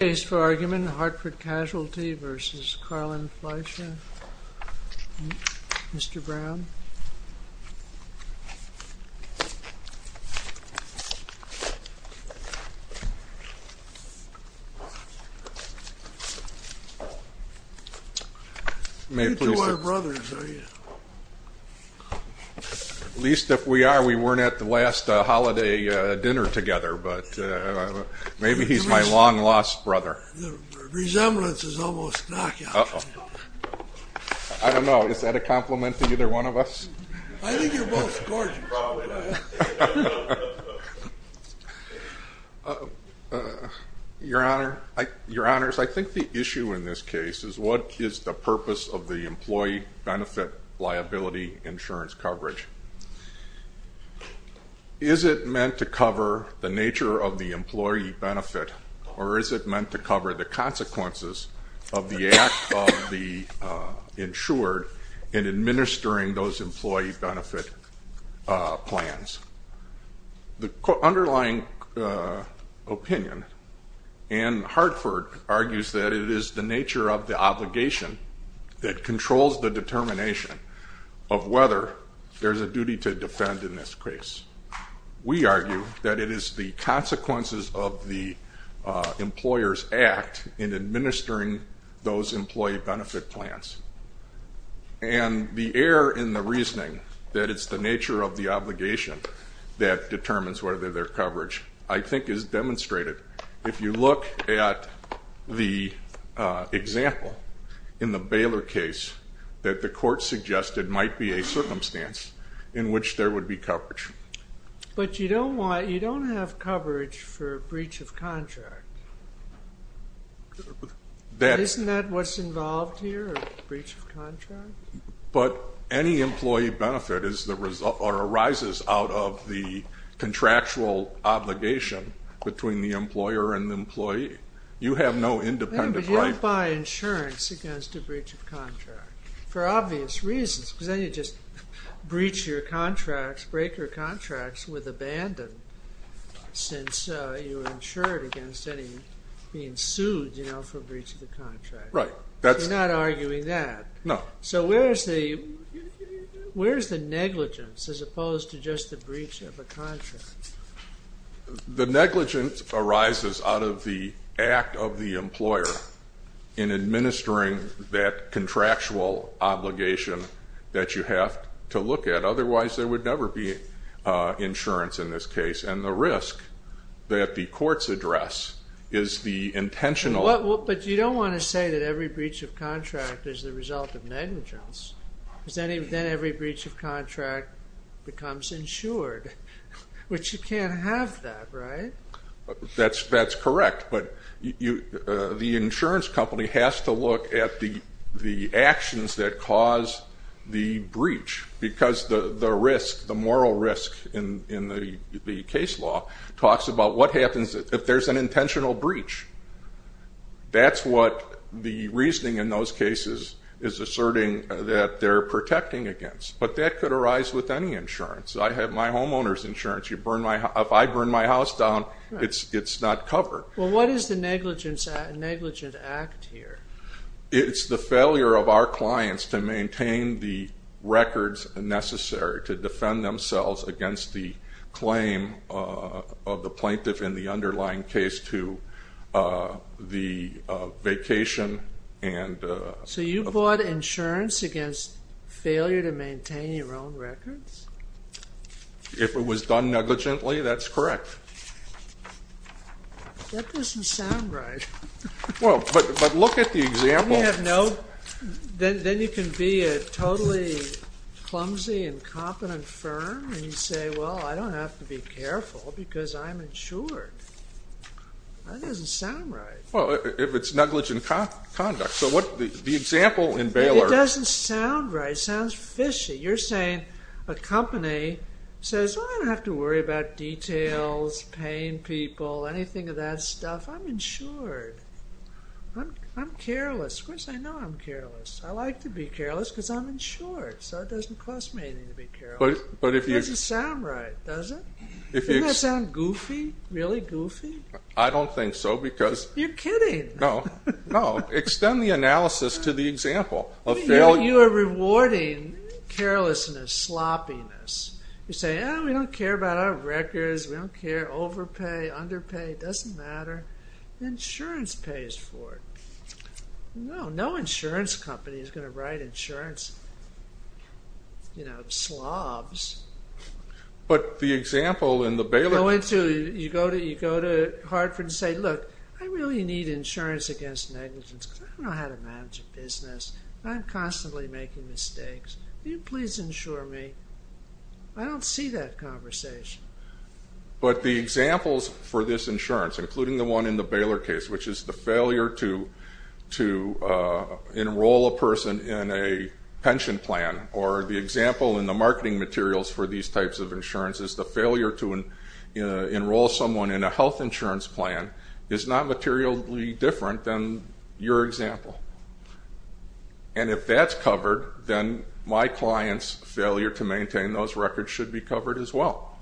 Case for argument, Hartford Casualty v. Karlin, Fleisher Mr. Brown You two are brothers, are you? At least if we are, we weren't at the last holiday dinner together Maybe he's my long lost brother The resemblance is almost knockout I don't know, is that a compliment to either one of us? I think you're both gorgeous Your Honor, I think the issue in this case is what is the purpose of the employee benefit liability insurance coverage? Is it meant to cover the nature of the employee benefit or is it meant to cover the consequences of the act of the insured in administering those employee benefit plans? The underlying opinion in Hartford argues that it is the nature of the obligation that controls the determination of whether there is a duty to defend in this case We argue that it is the consequences of the employer's act in administering those employee benefit plans And the error in the reasoning that it is the nature of the obligation that determines whether there is coverage I think is demonstrated If you look at the example in the Baylor case that the court suggested might be a circumstance in which there would be coverage But you don't have coverage for breach of contract Isn't that what's involved here? A breach of contract? But any employee benefit arises out of the contractual obligation between the employer and the employee You have no independent right But you don't buy insurance against a breach of contract For obvious reasons because then you just breach your contracts, break your contracts with abandon Since you're insured against being sued for breach of the contract Right You're not arguing that No So where's the negligence as opposed to just the breach of a contract? The negligence arises out of the act of the employer in administering that contractual obligation that you have to look at Otherwise there would never be insurance in this case And the risk that the courts address is the intentional But you don't want to say that every breach of contract is the result of negligence Because then every breach of contract becomes insured Which you can't have that, right? That's correct But the insurance company has to look at the actions that cause the breach Because the moral risk in the case law talks about what happens if there's an intentional breach That's what the reasoning in those cases is asserting that they're protecting against But that could arise with any insurance I have my homeowner's insurance If I burn my house down, it's not covered Well, what is the negligence act here? It's the failure of our clients to maintain the records necessary to defend themselves against the claim Of the plaintiff in the underlying case to the vacation So you bought insurance against failure to maintain your own records? If it was done negligently, that's correct That doesn't sound right Well, but look at the example Then you can be a totally clumsy and incompetent firm And you say, well, I don't have to be careful because I'm insured That doesn't sound right Well, if it's negligent conduct The example in Baylor It doesn't sound right, it sounds fishy You're saying a company says, I don't have to worry about details, paying people, anything of that stuff I'm insured I'm careless Of course I know I'm careless I like to be careless because I'm insured So it doesn't cost me anything to be careless It doesn't sound right, does it? Doesn't that sound goofy? Really goofy? I don't think so because You're kidding No, no Extend the analysis to the example You are rewarding carelessness, sloppiness You say, we don't care about our records We don't care, overpay, underpay, doesn't matter Insurance pays for it No, no insurance company is going to write insurance You know, slobs But the example in the Baylor You go to Hartford and say, look I really need insurance against negligence I don't know how to manage a business I'm constantly making mistakes Will you please insure me? I don't see that conversation But the examples for this insurance Including the one in the Baylor case Which is the failure to enroll a person in a pension plan Or the example in the marketing materials For these types of insurances The failure to enroll someone in a health insurance plan Is not materially different than your example And if that's covered Then my client's failure to maintain those records Should be covered as well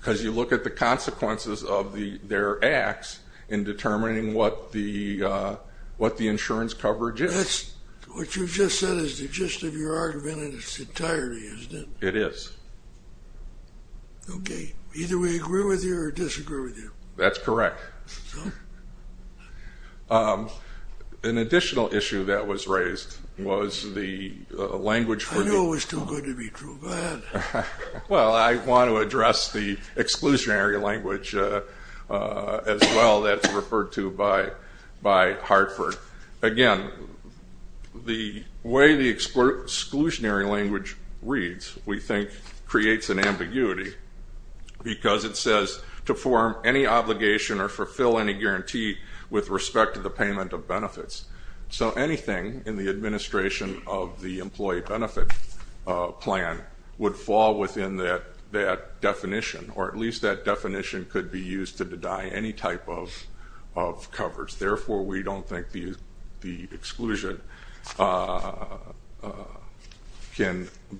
Because you look at the consequences of their acts In determining what the insurance coverage is That's what you just said Is the gist of your argument in its entirety, isn't it? It is Okay, either we agree with you or disagree with you That's correct An additional issue that was raised Was the language for the I knew it was too good to be too bad Well, I want to address the exclusionary language As well, that's referred to by Hartford Again, the way the exclusionary language reads We think creates an ambiguity Because it says to form any obligation Or fulfill any guarantee With respect to the payment of benefits So anything in the administration Of the employee benefit plan Would fall within that definition Or at least that definition could be used To deny any type of coverage Therefore, we don't think the exclusion Can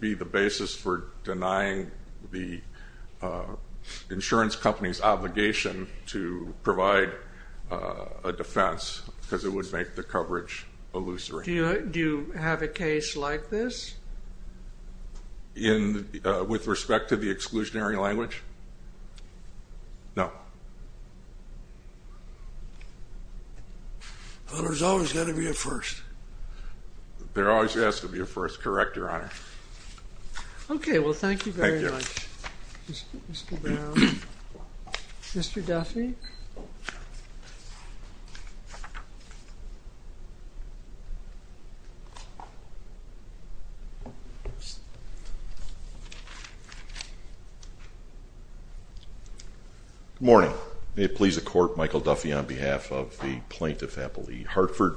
be the basis for denying The insurance company's obligation To provide a defense Because it would make the coverage illusory Do you have a case like this? With respect to the exclusionary language? No Well, there's always got to be a first There always has to be a first, correct your honor Okay, well thank you very much Mr. Brown Mr. Duffy Good morning May it please the court Michael Duffy on behalf of the plaintiff Appellee Hartford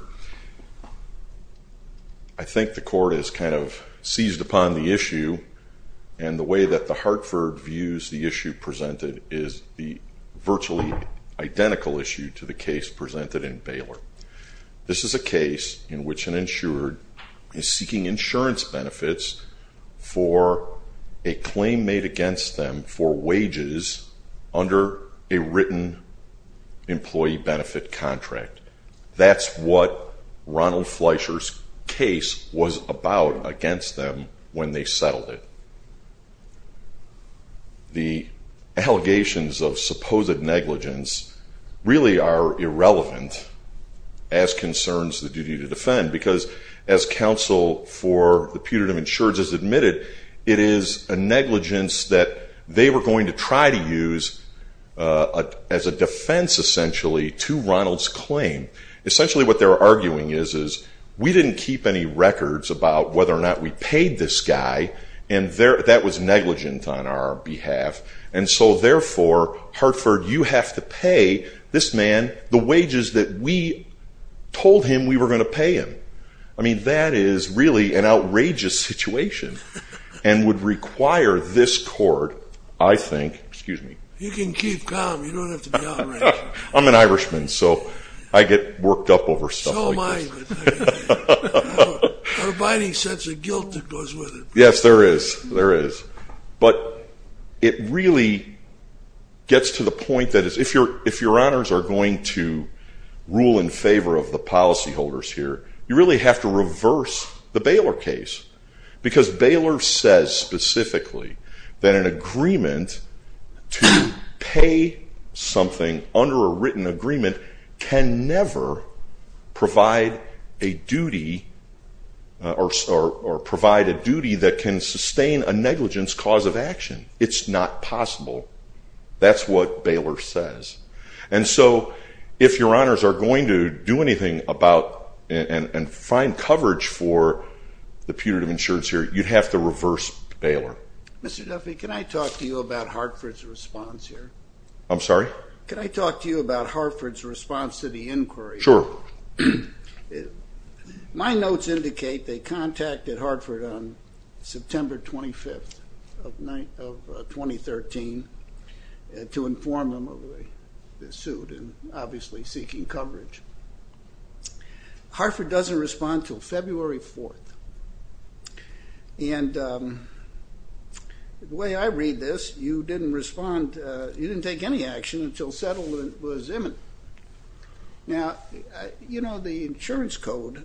I think the court has kind of seized upon the issue And the way that the Hartford views the issue presented Is the virtually identical issue To the case presented in Baylor This is a case in which an insured Is seeking insurance benefits For a claim made against them For wages under a written Employee benefit contract That's what Ronald Fleischer's case Was about against them When they settled it The allegations of supposed negligence Really are irrelevant As concerns the duty to defend Because as counsel for the putative insurance Has admitted, it is a negligence That they were going to try to use As a defense essentially to Ronald's claim Essentially what they're arguing is We didn't keep any records about whether or not we paid this guy And that was negligent on our behalf And so therefore, Hartford You have to pay this man the wages That we told him we were going to pay him I mean, that is really an outrageous situation And would require this court I think, excuse me You can keep calm, you don't have to be outrageous I'm an Irishman, so I get worked up over stuff like this So am I, but I don't have a binding sense of guilt that goes with it Yes, there is But it really gets to the point That if your honors are going to Rule in favor of the policy holders here You really have to reverse the Baylor case Because Baylor says specifically That an agreement to pay something Under a written agreement Can never provide a duty Or provide a duty that can sustain A negligence cause of action It's not possible That's what Baylor says And so if your honors are going to do anything about And find coverage for the putative insurance here You'd have to reverse Baylor Mr. Duffy, can I talk to you about Hartford's response here? I'm sorry? Can I talk to you about Hartford's response to the inquiry? Sure My notes indicate they contacted Hartford on September 25th of 2013 To inform them of the suit And obviously seeking coverage Hartford doesn't respond until February 4th And The way I read this You didn't respond, you didn't take any action Until settlement was imminent Now, you know the insurance code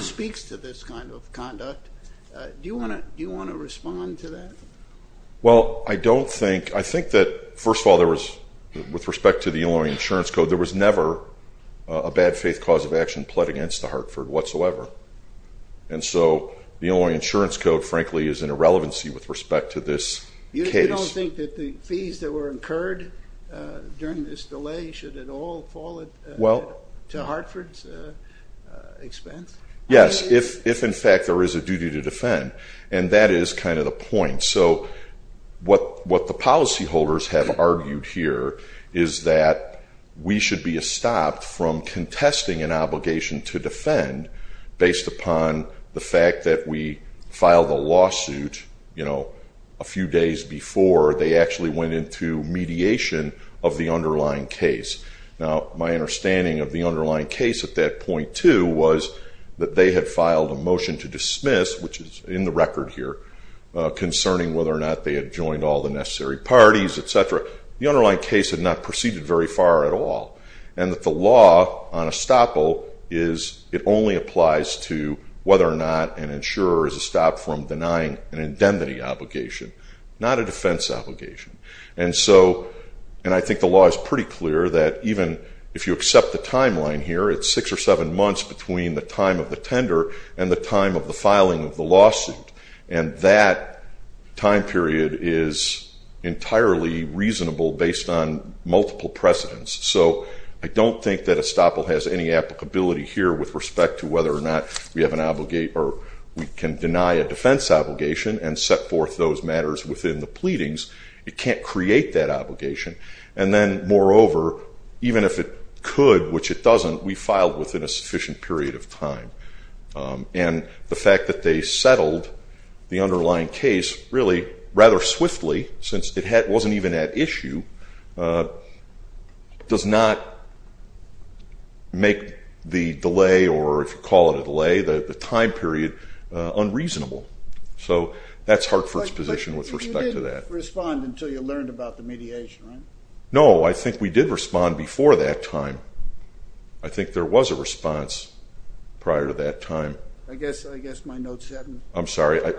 Speaks to this kind of conduct Do you want to respond to that? Well, I don't think I think that first of all With respect to the insurance code There was never a bad faith cause of action Pled against Hartford whatsoever And so the only insurance code Frankly is in irrelevancy with respect to this case You don't think that the fees that were incurred During this delay, should it all fall To Hartford's expense? Yes, if in fact there is a duty to defend And that is kind of the point What the policy holders have argued here Is that we should be stopped From contesting an obligation to defend Based upon the fact that we filed a lawsuit A few days before They actually went into mediation Of the underlying case Now, my understanding of the underlying case at that point too Was that they had filed a motion to dismiss Which is in the record here Concerning whether or not they had joined all the necessary parties The underlying case had not proceeded very far at all And that the law on estoppel It only applies to whether or not An insurer is stopped from denying an indemnity obligation Not a defense obligation And I think the law is pretty clear That even if you accept the timeline here It's six or seven months between the time of the tender And the time of the filing of the lawsuit And that time period is entirely reasonable Based on multiple precedents So I don't think that estoppel has any applicability here With respect to whether or not we have an obligation Or we can deny a defense obligation And set forth those matters within the pleadings It can't create that obligation And then moreover, even if it could, which it doesn't We filed within a sufficient period of time And the fact that they settled the underlying case Really rather swiftly Since it wasn't even at issue Does not make the delay Or if you call it a delay The time period unreasonable So that's Hartford's position with respect to that But you didn't respond until you learned about the mediation, right? No, I think we did respond before that time I think there was a response prior to that time I guess my notes haven't... I'm sorry, I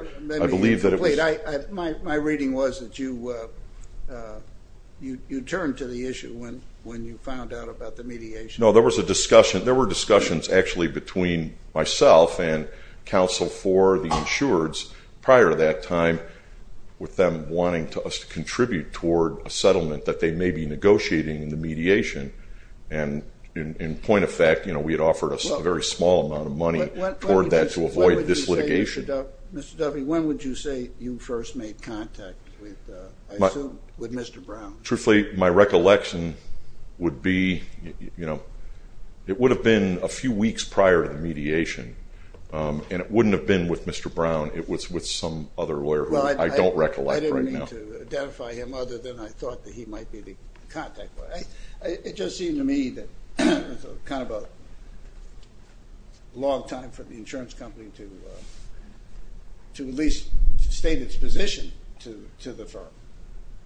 believe that it was... My reading was that you You turned to the issue when you found out about the mediation No, there was a discussion, there were discussions actually Between myself and counsel for the insureds Prior to that time With them wanting us to contribute toward a settlement That they may be negotiating the mediation And in point of fact, we had offered a very small amount of money Toward that to avoid this litigation Mr. Duffy, when would you say you first made contact With Mr. Brown? Truthfully, my recollection would be It would have been a few weeks prior to the mediation And it wouldn't have been with Mr. Brown It was with some other lawyer who I don't recollect right now To identify him other than I thought that he might be the contact It just seemed to me that It was kind of a long time For the insurance company to To at least state its position to the firm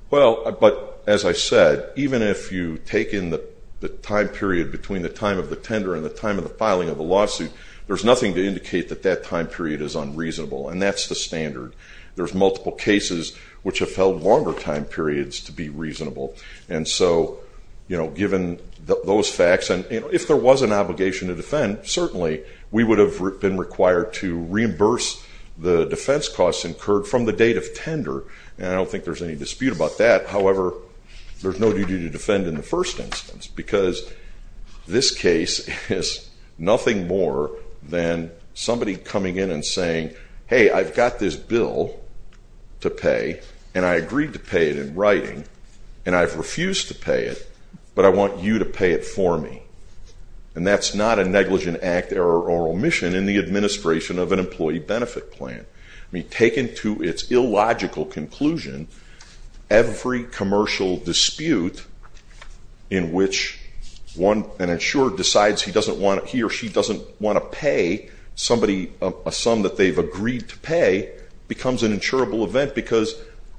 Well, but as I said Even if you take in the time period Between the time of the tender and the time of the filing of the lawsuit There's nothing to indicate that that time period is unreasonable And that's the standard There's multiple cases which have held longer time periods to be reasonable And so, you know, given those facts And if there was an obligation to defend Certainly we would have been required to reimburse The defense costs incurred from the date of tender And I don't think there's any dispute about that However, there's no duty to defend in the first instance Because this case is nothing more Than somebody coming in and saying Hey, I've got this bill to pay And I agreed to pay it in writing And I've refused to pay it, but I want you to pay it for me And that's not a negligent act or omission In the administration of an employee benefit plan I mean, taken to its illogical conclusion Every commercial dispute In which an insurer decides He or she doesn't want to pay A sum that they've agreed to pay Becomes an insurable event Because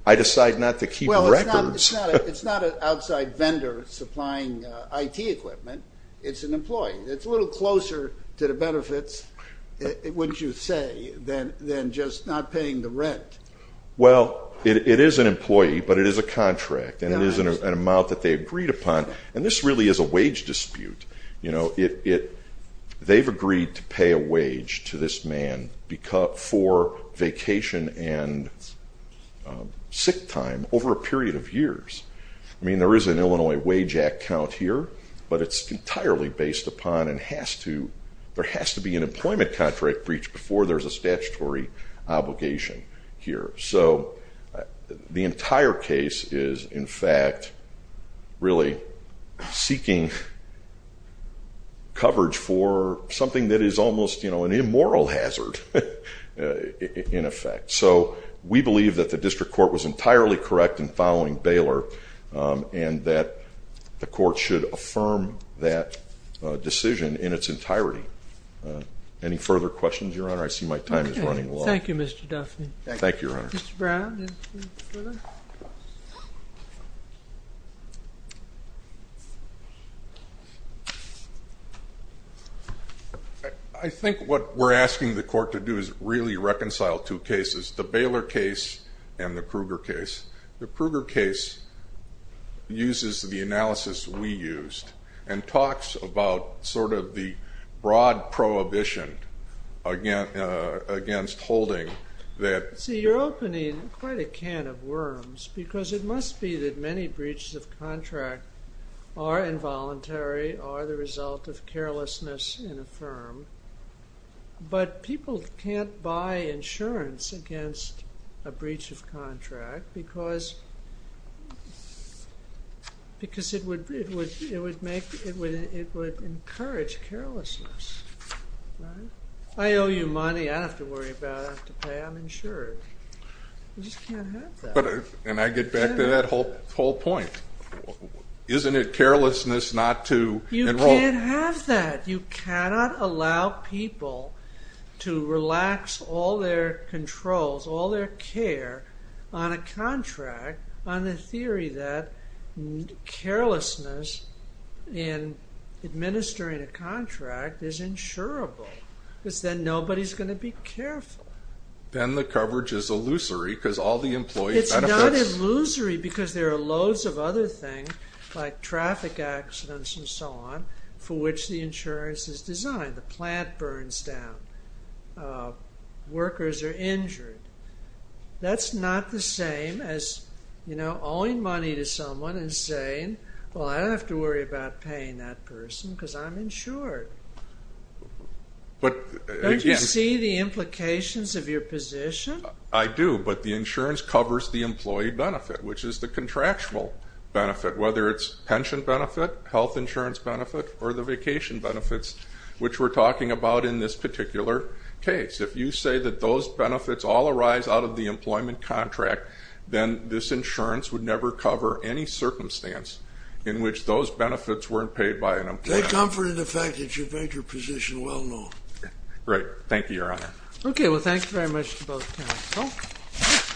I decide not to keep records Well, it's not an outside vendor supplying IT equipment It's an employee It's a little closer to the benefits, wouldn't you say Than just not paying the rent Well, it is an employee, but it is a contract And it is an amount that they agreed upon And this really is a wage dispute They've agreed to pay a wage to this man For vacation and sick time Over a period of years I mean, there is an Illinois Wage Act count here But it's entirely based upon and has to There has to be an employment contract breach Before there's a statutory obligation here So the entire case is in fact Really seeking Coverage for something that is almost You know, an immoral hazard In effect So we believe that the district court was entirely correct In following Baylor And that the court should affirm that decision In its entirety Any further questions, Your Honor? I see my time is running low Thank you, Mr. Duffey Mr. Brown I think what we're asking the court to do Is really reconcile two cases The Baylor case and the Kruger case The Kruger case uses the analysis we used And talks about sort of the Broad prohibition Against holding that See, you're opening quite a can of worms Because it must be that many breaches of contract Are involuntary, are the result of carelessness In a firm But people can't buy insurance against A breach of contract Because Because it would Encourage carelessness I owe you money, I don't have to worry about it I'm insured And I get back to that whole point Isn't it carelessness not to enroll You can't have that, you cannot allow people To relax all their Controls, all their care On a contract on the theory that Carelessness in Administering a contract is insurable Because then nobody is going to be careful Then the coverage is illusory because all the employees It's not illusory because there are loads of other things Like traffic accidents and so on For which the insurance is designed The plant burns down Workers are injured That's not the same as, you know, owing money To someone and saying, well I don't have to worry about Paying that person because I'm insured Don't you see the implications Of your position? I do, but the insurance covers the employee benefit Which is the contractual benefit, whether it's pension benefit Health insurance benefit or the vacation benefits Which we're talking about in this particular case If you say that those benefits all arise out of the employment Contract, then this insurance would never cover Any circumstance in which those benefits Weren't paid by an employer Great, thank you, your honor Okay, well thank you very much to both panelists